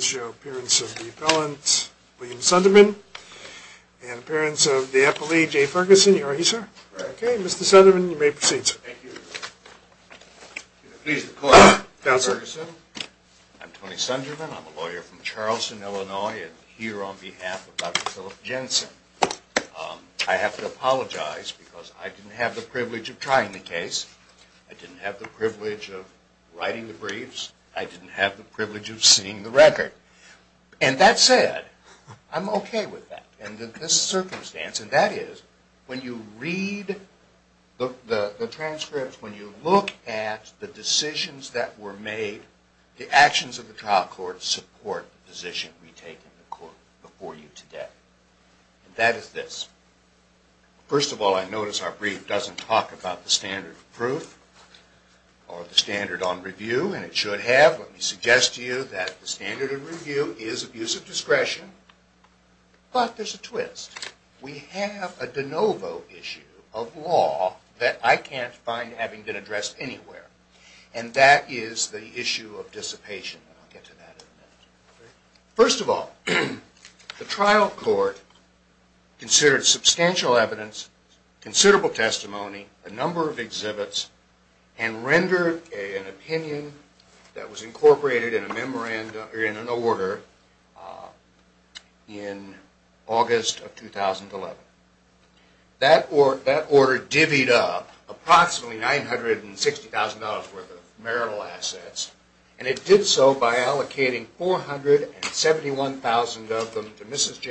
Show Appearance of the Appellant William Sunderman and Appearance of the Appellee J. Ferguson. Are you, sir? Right. Okay, Mr. Sunderman, you may proceed, sir. Pleased to call you, Mr. Ferguson. Counselor. I'm Tony Sunderman. I'm a lawyer from Charleston, Illinois, and here on behalf of Dr. Philip Jensen. I have to apologize because I didn't have the privilege of trying the case. I didn't have the privilege of writing the briefs. I didn't have the privilege of seeing the record. And that said, I'm okay with that. And in this circumstance, and that is, when you read the transcripts, when you look at the decisions that were made, the actions of the trial court support the position we take in the court before you today. And that is this. First of all, I notice our brief doesn't talk about the standard of proof or the standard on review, and it should have. Let me suggest to you that the standard of review is abuse of discretion. But there's a twist. We have a de novo issue of law that I can't find having been addressed anywhere. And that is the issue of dissipation, and I'll get to that in a minute. First of all, the trial court considered substantial evidence, considerable testimony, a number of exhibits, and rendered an opinion that was incorporated in an order in August of 2011. That order divvied up approximately $960,000 worth of marital assets, and it did so by allocating $471,000 of them to Mrs.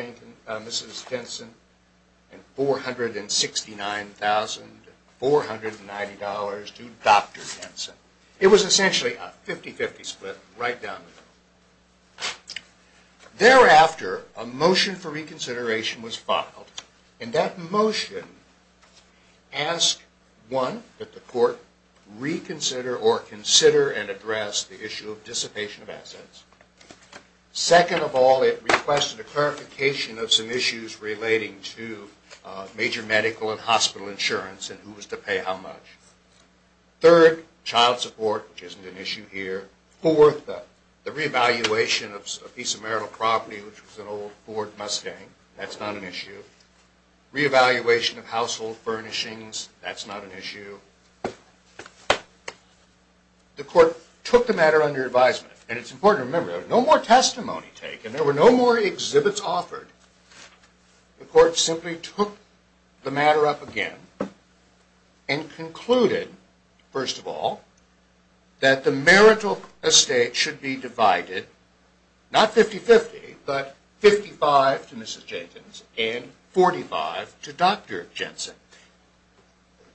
Denson and $469,490 to Dr. Denson. It was essentially a 50-50 split right down the road. Thereafter, a motion for reconsideration was filed. And that motion asked, one, that the court reconsider or consider and address the issue of dissipation of assets. Second of all, it requested a clarification of some issues relating to major medical and hospital insurance and who was to pay how much. Third, child support, which isn't an issue here. Fourth, the re-evaluation of a piece of marital property, which was an old Ford Mustang. That's not an issue. Re-evaluation of household furnishings. That's not an issue. The court took the matter under advisement. And it's important to remember, no more testimony taken. There were no more exhibits offered. The court simply took the matter up again and concluded, first of all, that the marital estate should be divided, not 50-50, but 55 to Mrs. Jenkins and 45 to Dr. Jensen.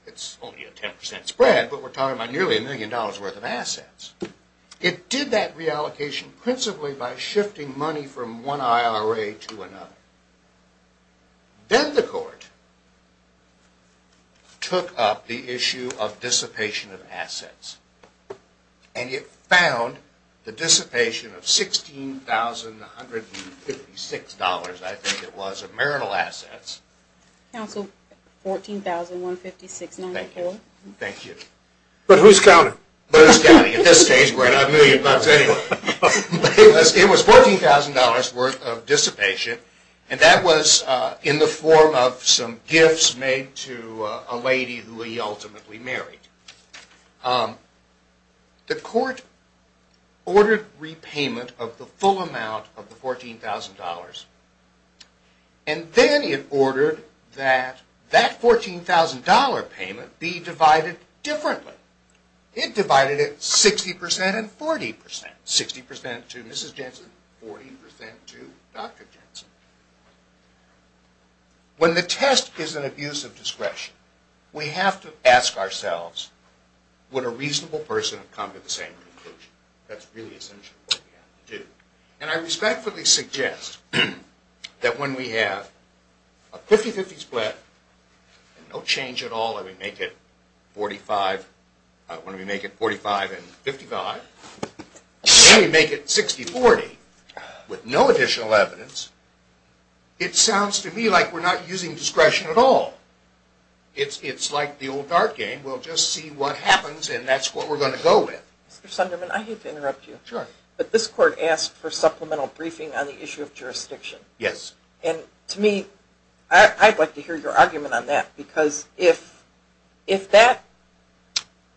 It's only a 10% spread, but we're talking about nearly a million dollars' worth of assets. It did that reallocation principally by shifting money from one IRA to another. Then the court took up the issue of dissipation of assets. And it found the dissipation of $16,156, I think it was, of marital assets. Counsel, $14,156.94. Thank you. But who's counting? Who's counting? At this stage, we're not million bucks anyway. It was $14,000 worth of dissipation. And that was in the form of some gifts made to a lady who he ultimately married. The court ordered repayment of the full amount of the $14,000. And then it ordered that that $14,000 payment be divided differently. It divided it 60% and 40%. 60% to Mrs. Jensen, 40% to Dr. Jensen. When the test is an abuse of discretion, we have to ask ourselves, would a reasonable person have come to the same conclusion? That's really essentially what we have to do. And I respectfully suggest that when we have a 50-50 spread, no change at all when we make it 45 and 55, then we make it 60-40 with no additional evidence, it sounds to me like we're not using discretion at all. It's like the old card game. We'll just see what happens, and that's what we're going to go with. Mr. Sunderman, I hate to interrupt you. But this court asked for supplemental briefing on the issue of jurisdiction. Yes. And to me, I'd like to hear your argument on that, because if that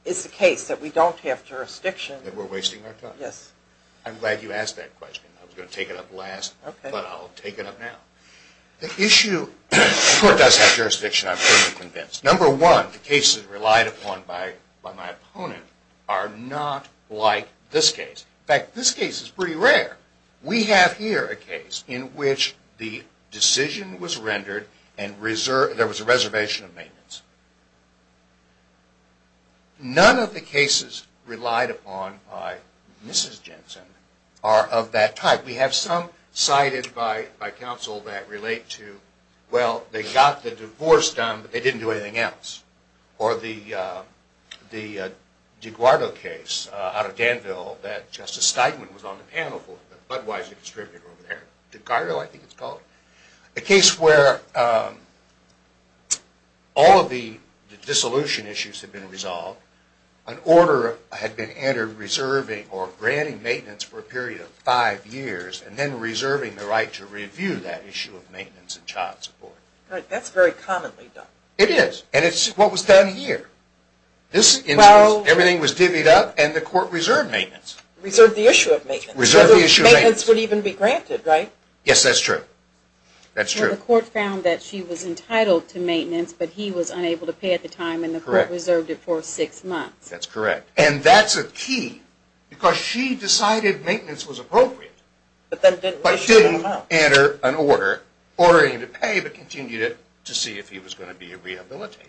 is the case, that we don't have jurisdiction, then we're wasting our time. Yes. I'm glad you asked that question. I was going to take it up last, but I'll take it up now. The issue, the court does have jurisdiction, I'm pretty convinced. Number one, the cases relied upon by my opponent are not like this case. In fact, this case is pretty rare. We have here a case in which the decision was rendered and there was a reservation of maintenance. None of the cases relied upon by Mrs. Jensen are of that type. We have some cited by counsel that relate to, well, they got the divorce done, but they didn't do anything else. Or the DeGuardo case out of Danville that Justice Steinman was on the panel for, the Budweiser distributor over there. DeGuardo, I think it's called. A case where all of the dissolution issues had been resolved, an order had been entered reserving or granting maintenance for a period of five years and then reserving the right to review that issue of maintenance and child support. That's very commonly done. It is. And it's what was done here. This instance, everything was divvied up and the court reserved maintenance. Reserved the issue of maintenance. Reserved the issue of maintenance. Maintenance would even be granted, right? Yes, that's true. That's true. The court found that she was entitled to maintenance, but he was unable to pay at the time and the court reserved it for six months. That's correct. And that's a key because she decided maintenance was appropriate, but didn't issue an order ordering him to pay and he would have continued it to see if he was going to be rehabilitated.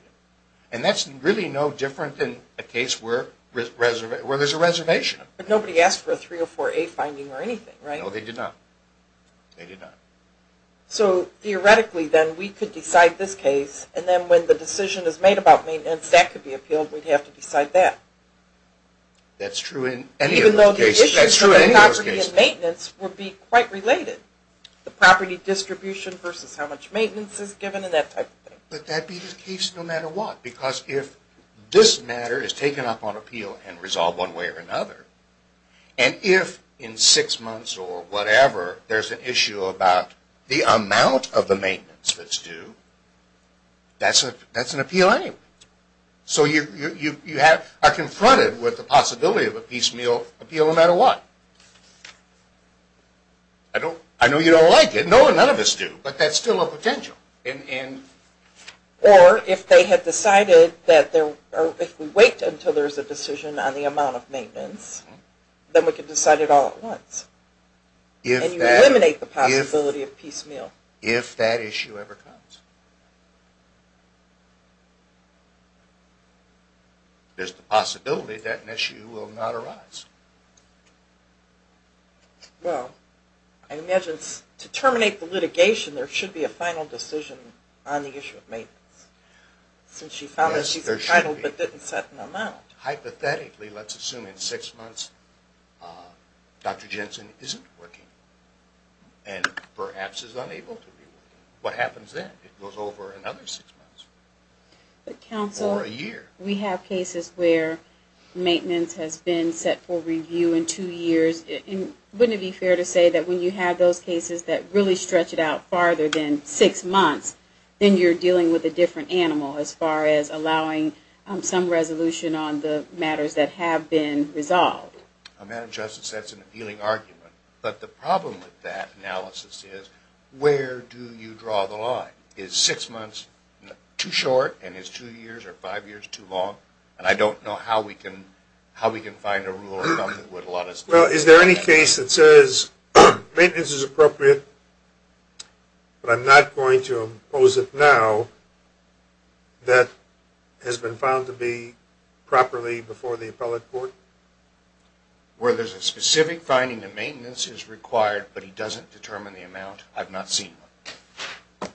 And that's really no different than a case where there's a reservation. But nobody asked for a 304A finding or anything, right? No, they did not. They did not. So theoretically then we could decide this case and then when the decision is made about maintenance that could be appealed, we'd have to decide that. That's true in any of those cases. That's true in any of those cases. Even though the issue of the property and maintenance would be quite related. The property distribution versus how much maintenance is given and that type of thing. But that'd be the case no matter what because if this matter is taken up on appeal and resolved one way or another, and if in six months or whatever there's an issue about the amount of the maintenance that's due, that's an appeal anyway. So you are confronted with the possibility of a piecemeal appeal no matter what. I know you don't like it. No, none of us do. But that's still a potential. Or if we wait until there's a decision on the amount of maintenance, then we can decide it all at once. And you eliminate the possibility of piecemeal. If that issue ever comes. There's the possibility that an issue will not arise. Well, I imagine to terminate the litigation, there should be a final decision on the issue of maintenance. Since she found that she's entitled but didn't set an amount. Hypothetically, let's assume in six months Dr. Jensen isn't working and perhaps is unable to be working. What happens then? It goes over another six months or a year. We have cases where maintenance has been set for review in two years. Wouldn't it be fair to say that when you have those cases that really stretch it out farther than six months, then you're dealing with a different animal as far as allowing some resolution on the matters that have been resolved? Madam Justice, that's an appealing argument. But the problem with that analysis is where do you draw the line? Is six months too short and is two years or five years too long? And I don't know how we can find a rule of thumb that would allow us to do that. Well, is there any case that says maintenance is appropriate but I'm not going to impose it now that has been found to be properly before the appellate court? Where there's a specific finding that maintenance is required but he doesn't determine the amount, I've not seen one.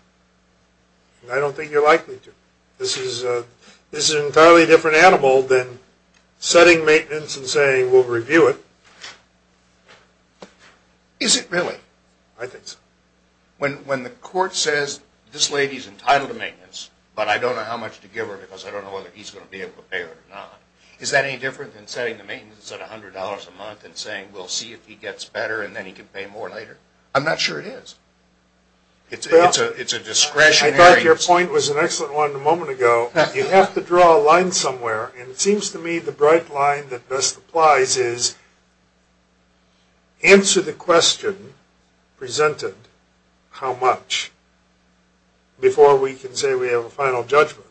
I don't think you're likely to. This is an entirely different animal than setting maintenance and saying we'll review it. Is it really? I think so. When the court says this lady is entitled to maintenance but I don't know how much to give her because I don't know whether he's going to be able to pay her or not, is that any different than setting the maintenance at $100 a month and saying we'll see if he gets better and then he can pay more later? I'm not sure it is. It's a discretionary. I thought your point was an excellent one a moment ago. You have to draw a line somewhere, and it seems to me the bright line that best applies is answer the question presented how much before we can say we have a final judgment,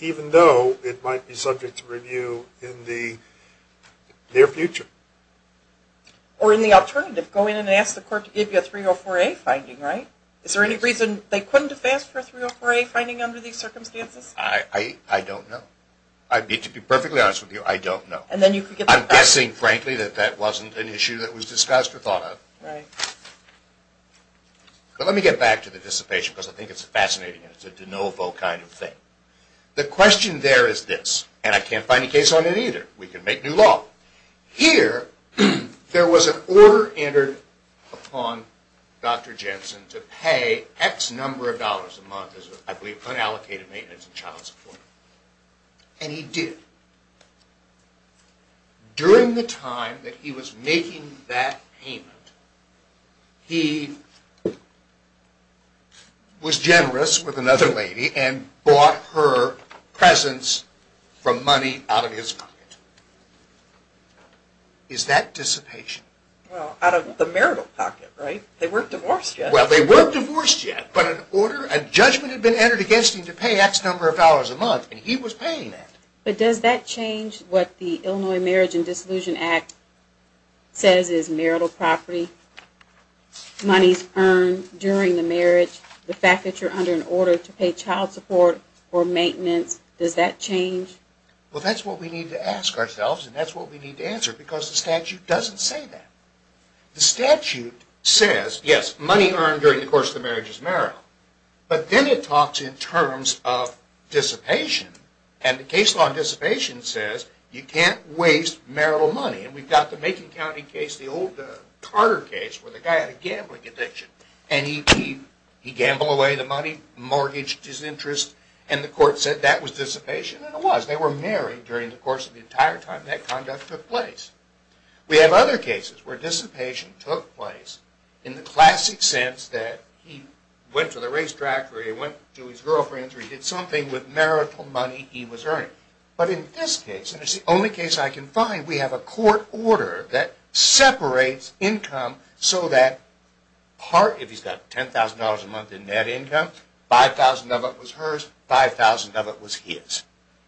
even though it might be subject to review in the near future. Or in the alternative, go in and ask the court to give you a 304A finding, right? Is there any reason they couldn't have asked for a 304A finding under these circumstances? I don't know. To be perfectly honest with you, I don't know. I'm guessing, frankly, that that wasn't an issue that was discussed or thought of. But let me get back to the dissipation because I think it's fascinating and it's a de novo kind of thing. The question there is this, and I can't find a case on it either. We can make new law. Here, there was an order entered upon Dr. Jensen to pay X number of dollars a month as I believe unallocated maintenance and child support, and he did. During the time that he was making that payment, he was generous with another lady and bought her presents from money out of his pocket. Is that dissipation? Well, out of the marital pocket, right? They weren't divorced yet. Well, they weren't divorced yet, but an order, a judgment had been entered against him to pay X number of dollars a month, and he was paying that. But does that change what the Illinois Marriage and Dissolution Act says is marital property, monies earned during the marriage, the fact that you're under an order to pay child support or maintenance, does that change? Well, that's what we need to ask ourselves, and that's what we need to answer because the statute doesn't say that. The statute says, yes, money earned during the course of the marriage is marital, but then it talks in terms of dissipation, and the case law on dissipation says you can't waste marital money, and we've got the Macon County case, the old Carter case where the guy had a gambling addiction, and he gambled away the money, mortgaged his interest, and the court said that was dissipation, and it was. They were married during the course of the entire time that conduct took place. We have other cases where dissipation took place in the classic sense that he went to the racetrack or he went to his girlfriend's or he did something with marital money he was earning. But in this case, and it's the only case I can find, we have a court order that separates income so that part, if he's got $10,000 a month in net income, 5,000 of it was hers, 5,000 of it was his.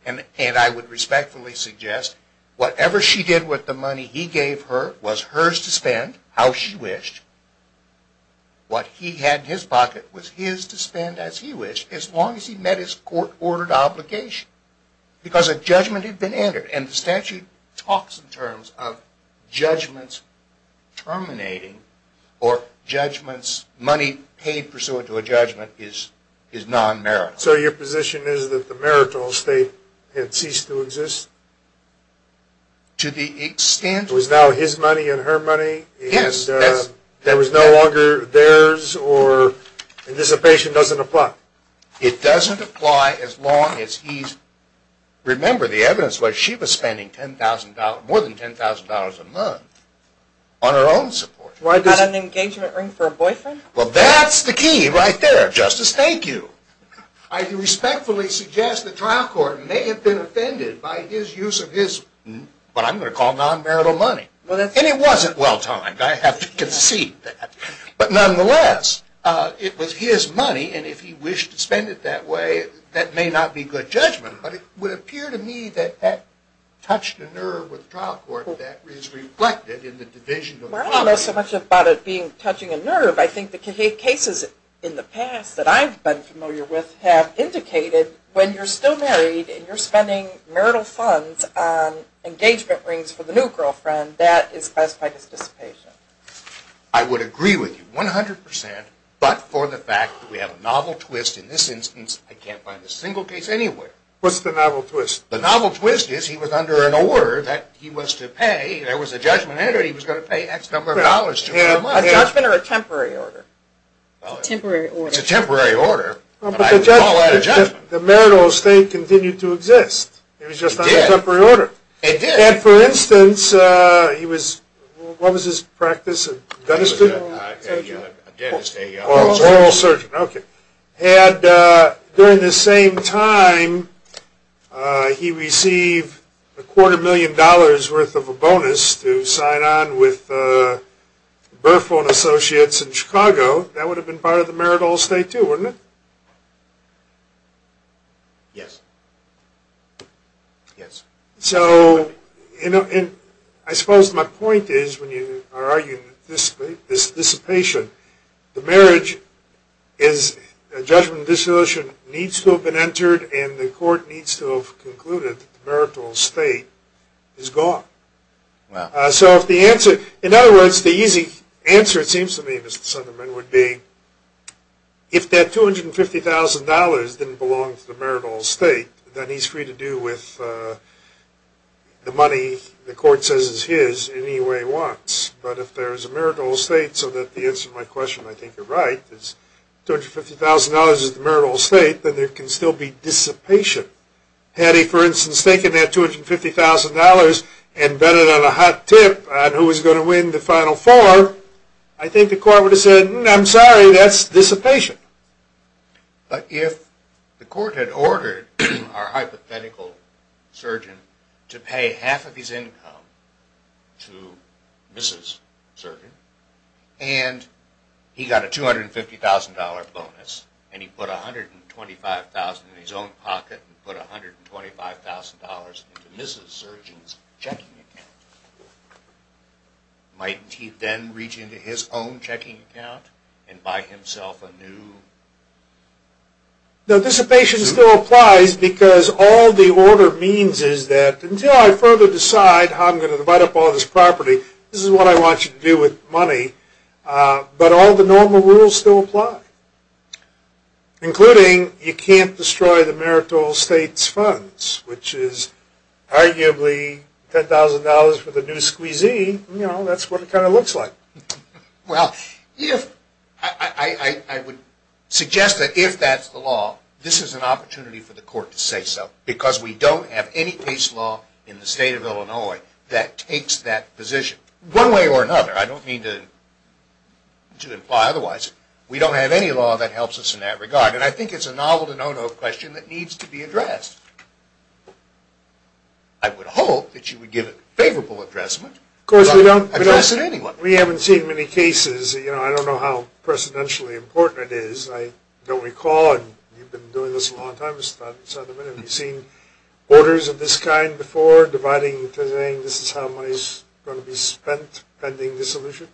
And I would respectfully suggest whatever she did with the money he gave her was hers to spend how she wished. What he had in his pocket was his to spend as he wished as long as he met his court-ordered obligation because a judgment had been entered. And the statute talks in terms of judgments terminating or judgments money paid pursuant to a judgment is non-marital. So your position is that the marital estate had ceased to exist? To the extent? It was now his money and her money? Yes. And there was no longer theirs or dissipation doesn't apply? It doesn't apply as long as he's, remember the evidence was she was spending more than $10,000 a month on her own support. What about an engagement ring for a boyfriend? Well, that's the key right there, Justice. Thank you. I respectfully suggest the trial court may have been offended by his use of his, what I'm going to call non-marital money. And it wasn't well-timed, I have to concede that. But nonetheless, it was his money, and if he wished to spend it that way, that may not be good judgment, but it would appear to me that that touched a nerve with the trial court that is reflected in the division of property. I don't know so much about it being touching a nerve. I think the cases in the past that I've been familiar with have indicated when you're still married and you're spending marital funds on engagement rings for the new girlfriend, that is classified as dissipation. I would agree with you 100 percent, but for the fact that we have a novel twist in this instance, I can't find a single case anywhere. What's the novel twist? The novel twist is he was under an order that he was to pay, there was a judgment and he was going to pay X number of dollars to her. A judgment or a temporary order? Temporary order. It's a temporary order, but I would call that a judgment. But the marital estate continued to exist. It was just not a temporary order. It did. And for instance, he was, what was his practice, a dentist? A dentist. An oral surgeon. An oral surgeon, okay. And during the same time, he received a quarter million dollars worth of a bonus to sign on with Burford Associates in Chicago. That would have been part of the marital estate too, wouldn't it? Yes. So I suppose my point is when you are arguing dissipation, the marriage is a judgment, a dissolution needs to have been entered and the court needs to have concluded that the marital estate is gone. Wow. So if the answer, in other words, the easy answer it seems to me, Mr. Sunderman, would be if that $250,000 didn't belong to the marital estate, then he's free to do with the money the court says is his any way he wants. But if there is a marital estate so that the answer to my question, I think you're right, is $250,000 is the marital estate, then there can still be dissipation. Had he, for instance, taken that $250,000 and bet it on a hot tip on who was going to win the final four, I think the court would have said, I'm sorry, that's dissipation. But if the court had ordered our hypothetical surgeon to pay half of his income to Mrs. Surgeon and he got a $250,000 bonus and he put $125,000 in his own pocket and put $125,000 into Mrs. Surgeon's checking account, might he then reach into his own checking account and buy himself a new? Dissipation still applies because all the order means is that until I further decide how I'm going to divide up all this property, this is what I want you to do with money. But all the normal rules still apply, including you can't destroy the marital estate's funds, which is arguably $10,000 for the new squeezee. That's what it kind of looks like. Well, I would suggest that if that's the law, this is an opportunity for the court to say so because we don't have any case law in the state of Illinois that takes that position. One way or another. I don't mean to imply otherwise. We don't have any law that helps us in that regard and I think it's a novel to no-no question that needs to be addressed. I would hope that you would give a favorable addressment. Of course, we don't. Address it anyway. We haven't seen many cases. I don't know how precedentially important it is. I don't recall, and you've been doing this a long time, Mr. Thotten-Sutherland, have you seen orders of this kind before, this is how money is going to be spent pending dissolution?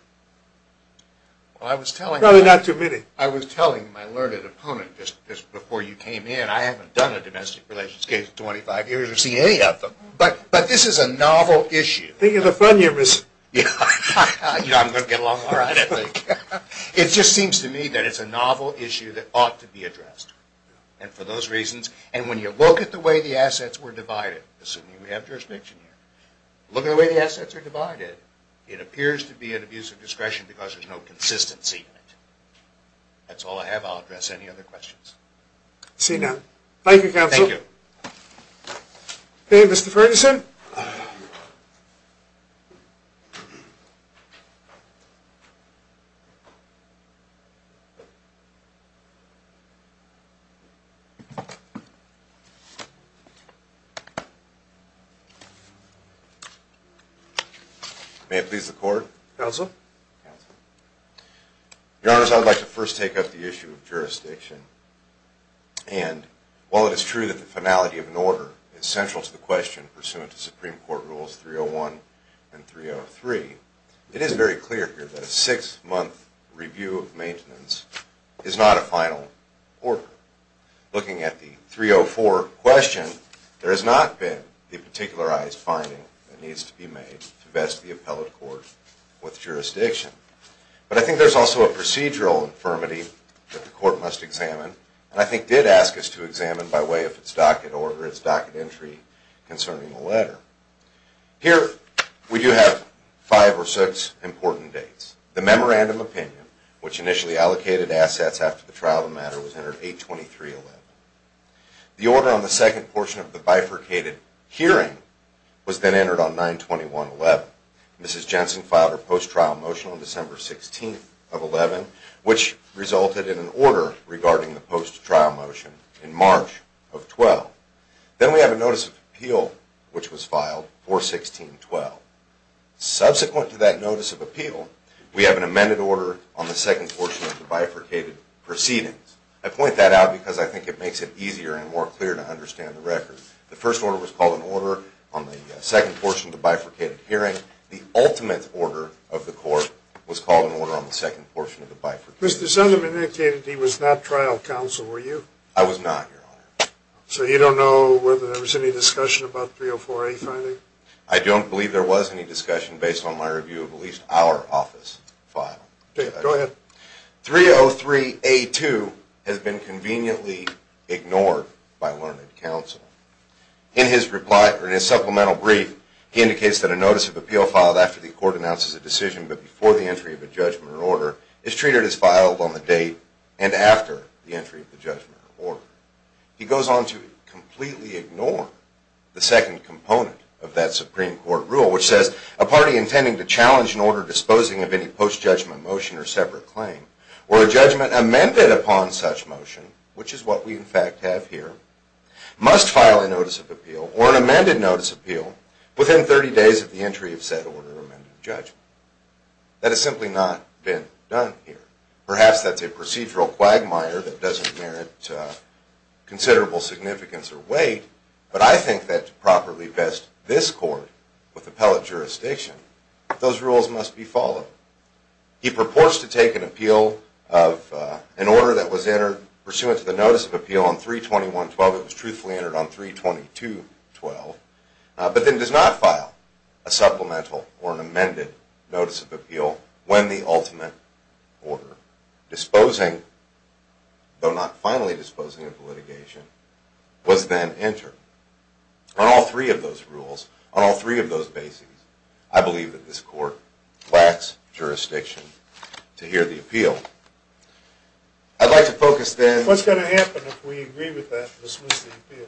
Probably not too many. I was telling my learned opponent just before you came in, I haven't done a domestic relations case in 25 years or seen any of them, but this is a novel issue. I think it's a fun year, Mr. Thotten-Sutherland. I'm going to get along all right, I think. It just seems to me that it's a novel issue that ought to be addressed and for those reasons, and when you look at the way the assets were divided, assuming we have jurisdiction here, look at the way the assets are divided, it appears to be an abuse of discretion because there's no consistency in it. That's all I have. I'll address any other questions. See you now. Thank you, Counsel. Thank you. Okay, Mr. Furnison. May it please the Court? Counsel? Counsel. Your Honors, I would like to first take up the issue of jurisdiction, and while it is true that the finality of an order is central to the question pursuant to Supreme Court Rules 301 and 303, it is very clear here that a six-month review of maintenance is not a final order. Looking at the 304 question, there has not been a particularized finding that needs to be made to vest the appellate court with jurisdiction. But I think there's also a procedural infirmity that the Court must examine and I think did ask us to examine by way of its docket order, its docket entry concerning the letter. Here we do have five or six important dates. The memorandum opinion, which initially allocated assets after the trial of the matter, was entered 823.11. The order on the second portion of the bifurcated hearing was then entered on 921.11. Mrs. Jensen filed her post-trial motion on December 16th of 11, which resulted in an order regarding the post-trial motion in March of 12. Then we have a notice of appeal, which was filed 416.12. Subsequent to that notice of appeal, we have an amended order on the second portion of the bifurcated proceedings. I point that out because I think it makes it easier and more clear to understand the record. The first order was called an order on the second portion of the bifurcated hearing. The ultimate order of the Court was called an order on the second portion of the bifurcated hearing. Mr. Zunderman indicated he was not trial counsel, were you? I was not, Your Honor. So you don't know whether there was any discussion about 304A finding? I don't believe there was any discussion based on my review of at least our office file. Okay, go ahead. 303A2 has been conveniently ignored by learned counsel. In his supplemental brief, he indicates that a notice of appeal filed after the Court announces a decision but before the entry of a judgment or order is treated as filed on the date and after the entry of the judgment or order. He goes on to completely ignore the second component of that Supreme Court rule, which says a party intending to challenge an order disposing of any post-judgment motion or separate claim or a judgment amended upon such motion, which is what we in fact have here, must file a notice of appeal or an amended notice of appeal within 30 days of the entry of said order or amended judgment. That has simply not been done here. Perhaps that's a procedural quagmire that doesn't merit considerable significance or weight, but I think that to properly vest this Court with appellate jurisdiction, those rules must be followed. He purports to take an appeal of an order that was entered pursuant to the notice of appeal on 321-12. It was truthfully entered on 322-12, but then does not file a supplemental or an amended notice of appeal when the ultimate order disposing, though not finally disposing of the litigation, was then entered. On all three of those rules, on all three of those bases, I believe that this Court lacks jurisdiction to hear the appeal. I'd like to focus then... What's going to happen if we agree with that and dismiss the appeal?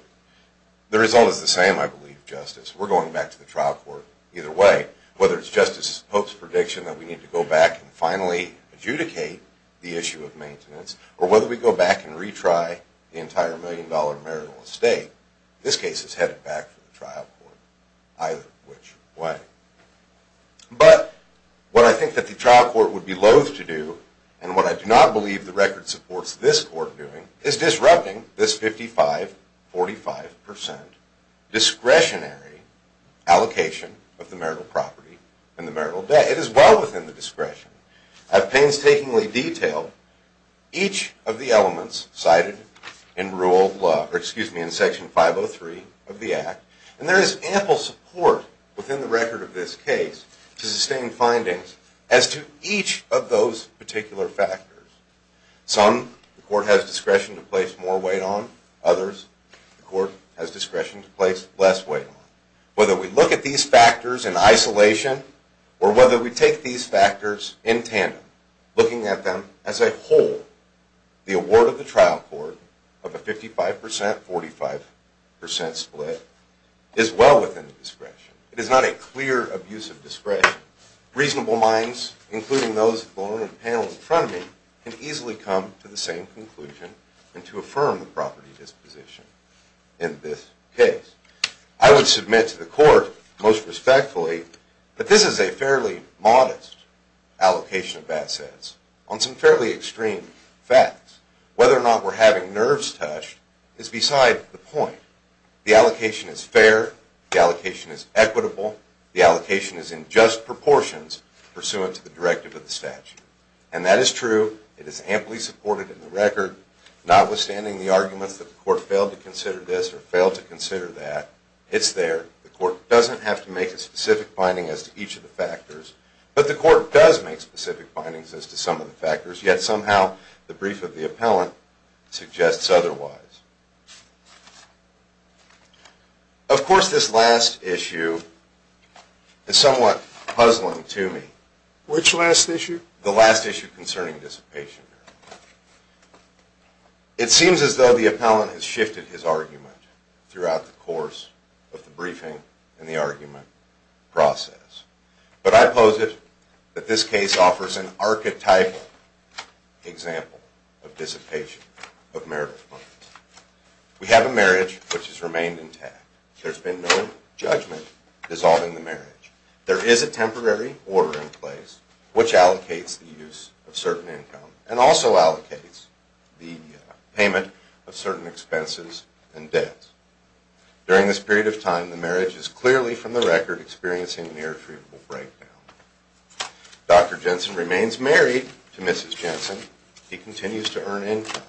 The result is the same, I believe, Justice. We're going back to the trial court either way, whether it's Justice Pope's prediction that we need to go back and finally adjudicate the issue of maintenance or whether we go back and retry the entire million-dollar marital estate. This case is headed back to the trial court either which way. But what I think that the trial court would be loathe to do and what I do not believe the record supports this Court doing is disrupting this 55-45% discretionary allocation of the marital property and the marital debt. It is well within the discretion. I've painstakingly detailed each of the elements cited in Section 503 of the Act, and there is ample support within the record of this case to sustain findings as to each of those particular factors. Some, the Court has discretion to place more weight on. Others, the Court has discretion to place less weight on. Whether we look at these factors in isolation or whether we take these factors in tandem, looking at them as a whole, the award of the trial court of a 55-45% split is well within the discretion. It is not a clear abuse of discretion. Reasonable minds, including those on the panel in front of me, can easily come to the same conclusion and to affirm the property disposition in this case. I would submit to the Court most respectfully that this is a fairly modest allocation of assets on some fairly extreme facts. Whether or not we're having nerves touched is beside the point. The allocation is fair. The allocation is equitable. The allocation is in just proportions pursuant to the directive of the statute. And that is true. It is amply supported in the record. Notwithstanding the arguments that the Court failed to consider this or failed to consider that, it's there. The Court doesn't have to make a specific finding as to each of the factors, but the Court does make specific findings as to some of the factors, yet somehow the brief of the appellant suggests otherwise. Of course, this last issue is somewhat puzzling to me. Which last issue? The last issue concerning dissipation. It seems as though the appellant has shifted his argument throughout the course of the briefing and the argument process. But I pose it that this case offers an archetypal example of dissipation of merit. We have a marriage which has remained intact. There's been no judgment dissolving the marriage. There is a temporary order in place which allocates the use of certain income and also allocates the payment of certain expenses and debts. During this period of time, the marriage is clearly, from the record, experiencing an irretrievable breakdown. Dr. Jensen remains married to Mrs. Jensen. He continues to earn income.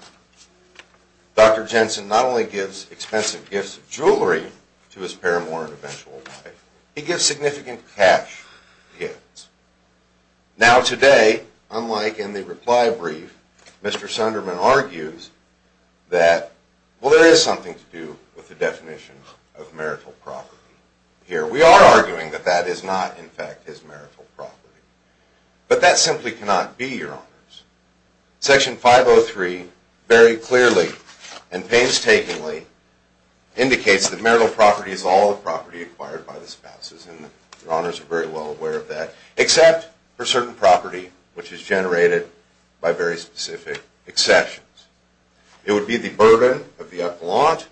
Dr. Jensen not only gives expensive gifts of jewelry to his paramour and eventual wife, he gives significant cash gifts. Now today, unlike in the reply brief, Mr. Sunderman argues that, well, there is something to do with the definition of marital property here. We are arguing that that is not, in fact, his marital property. But that simply cannot be, Your Honors. Section 503 very clearly and painstakingly indicates that marital property is all the property acquired by the spouses, and Your Honors are very well aware of that, except for certain property which is generated by very specific exceptions. It would be the burden of the appellant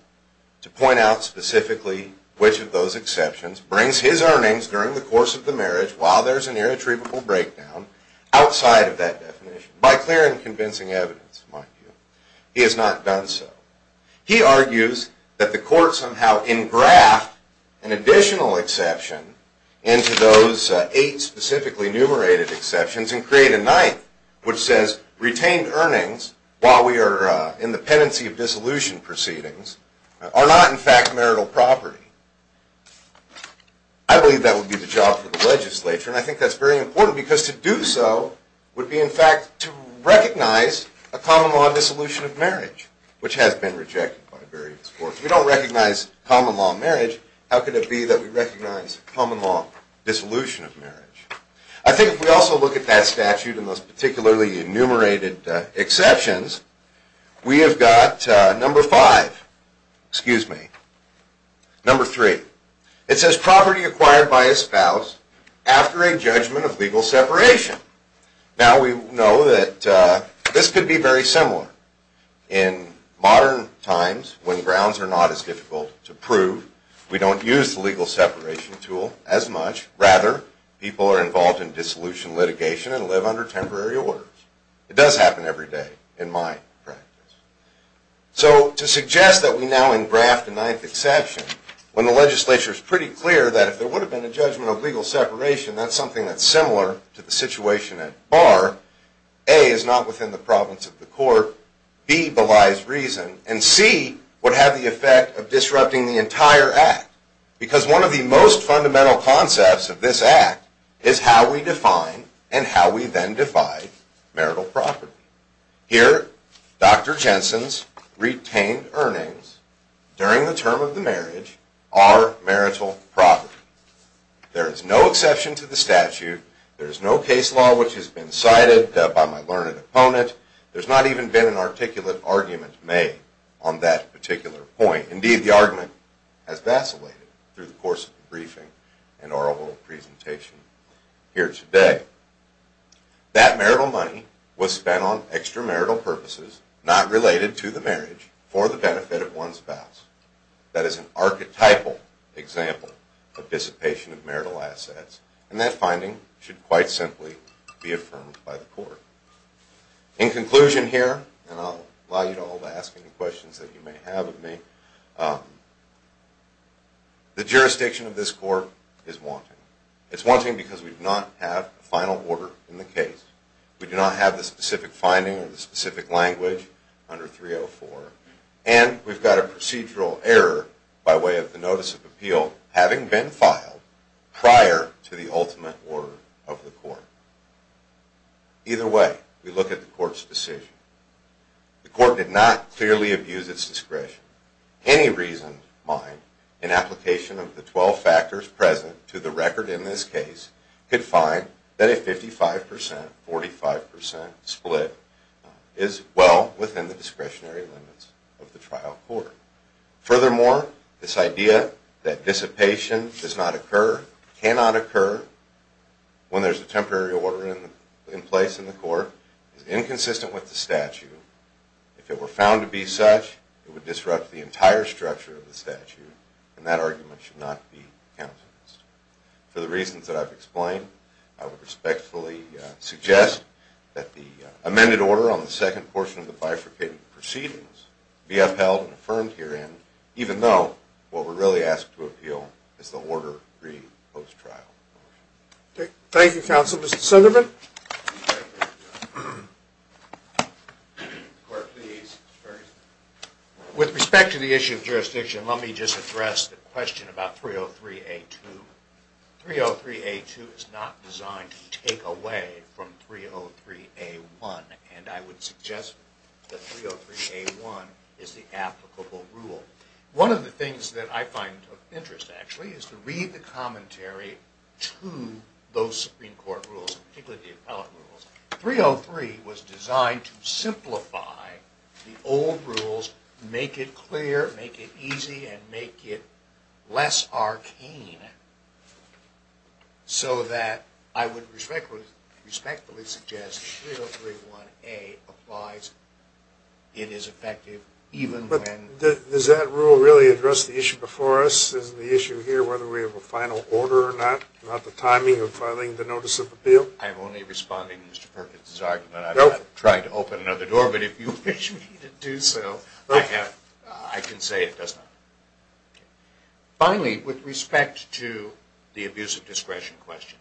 to point out specifically which of those exceptions brings his earnings during the course of the marriage, while there is an irretrievable breakdown, outside of that definition. By clear and convincing evidence, in my view, he has not done so. He argues that the court somehow engraft an additional exception into those eight specifically numerated exceptions and create a ninth, which says retained earnings, while we are in the pendency of dissolution proceedings, are not, in fact, marital property. I believe that would be the job for the legislature, and I think that is very important, because to do so would be, in fact, to recognize a common-law dissolution of marriage, which has been rejected by various courts. If we don't recognize common-law marriage, how could it be that we recognize common-law dissolution of marriage? I think if we also look at that statute and those particularly enumerated exceptions, we have got number five, excuse me, number three. It says property acquired by a spouse after a judgment of legal separation. Now we know that this could be very similar. In modern times, when grounds are not as difficult to prove, we don't use the legal separation tool as much. Rather, people are involved in dissolution litigation and live under temporary orders. It does happen every day in my practice. So to suggest that we now engraft a ninth exception, when the legislature is pretty clear that if there would have been a judgment of legal separation, that is something that is similar to the situation at bar, A, is not within the province of the court, B, belies reason, and C, would have the effect of disrupting the entire act. Because one of the most fundamental concepts of this act is how we define and how we then divide marital property. Here, Dr. Jensen's retained earnings during the term of the marriage are marital property. There is no exception to the statute. There is no case law which has been cited by my learned opponent. There has not even been an articulate argument made on that particular point. Indeed, the argument has vacillated through the course of the briefing and oral presentation here today. That marital money was spent on extramarital purposes not related to the marriage for the benefit of one's spouse. That is an archetypal example of dissipation of marital assets, and that finding should quite simply be affirmed by the court. In conclusion here, and I'll allow you all to ask any questions that you may have of me, the jurisdiction of this court is wanting. It's wanting because we do not have a final order in the case. We do not have the specific finding or the specific language under 304, and we've got a procedural error by way of the notice of appeal having been filed prior to the ultimate order of the court. Either way, we look at the court's decision. The court did not clearly abuse its discretion. Any reason, mind, in application of the 12 factors present to the record in this case could find that a 55%, 45% split is well within the discretionary limits of the trial court. Furthermore, this idea that dissipation does not occur, cannot occur, when there's a temporary order in place in the court, is inconsistent with the statute. If it were found to be such, it would disrupt the entire structure of the statute, and that argument should not be countenanced. For the reasons that I've explained, I would respectfully suggest that the amended order on the second portion of the bifurcated proceedings be upheld and affirmed herein, even though what we're really asked to appeal is the Order 3 post-trial. Thank you, counsel. Mr. Sunderman? With respect to the issue of jurisdiction, let me just address the question about 303A2. 303A2 is not designed to take away from 303A1, and I would suggest that 303A1 is the applicable rule. One of the things that I find of interest, actually, is to read the commentary to those Supreme Court rules, particularly the appellate rules. 303 was designed to simplify the old rules, make it clear, make it easy, and make it less arcane, so that I would respectfully suggest that 303A1 applies. It is effective even when... Does that rule really address the issue before us? Is the issue here whether we have a final order or not, about the timing of filing the notice of appeal? I'm only responding to Mr. Perkins' argument. I'm not trying to open another door, but if you wish me to do so, I can say it does not. Finally, with respect to the abuse of discretion question,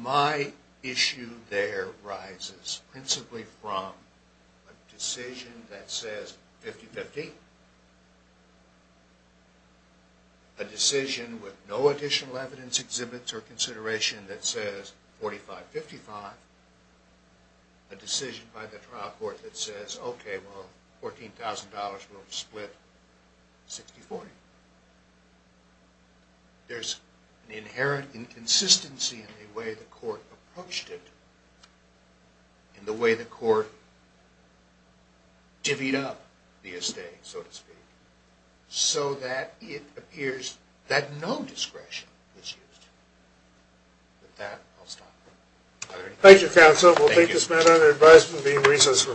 my issue there rises principally from a decision that says 50-50, a decision with no additional evidence, exhibits, or consideration that says 45-55, a decision by the trial court that says, okay, well, $14,000 will split 60-40. There's an inherent inconsistency in the way the court approached it, in the way the court divvied up the estate, so to speak, so that it appears that no discretion was used. With that, I'll stop. Thank you, counsel. We'll take this matter under advisement and be in recess for a few moments.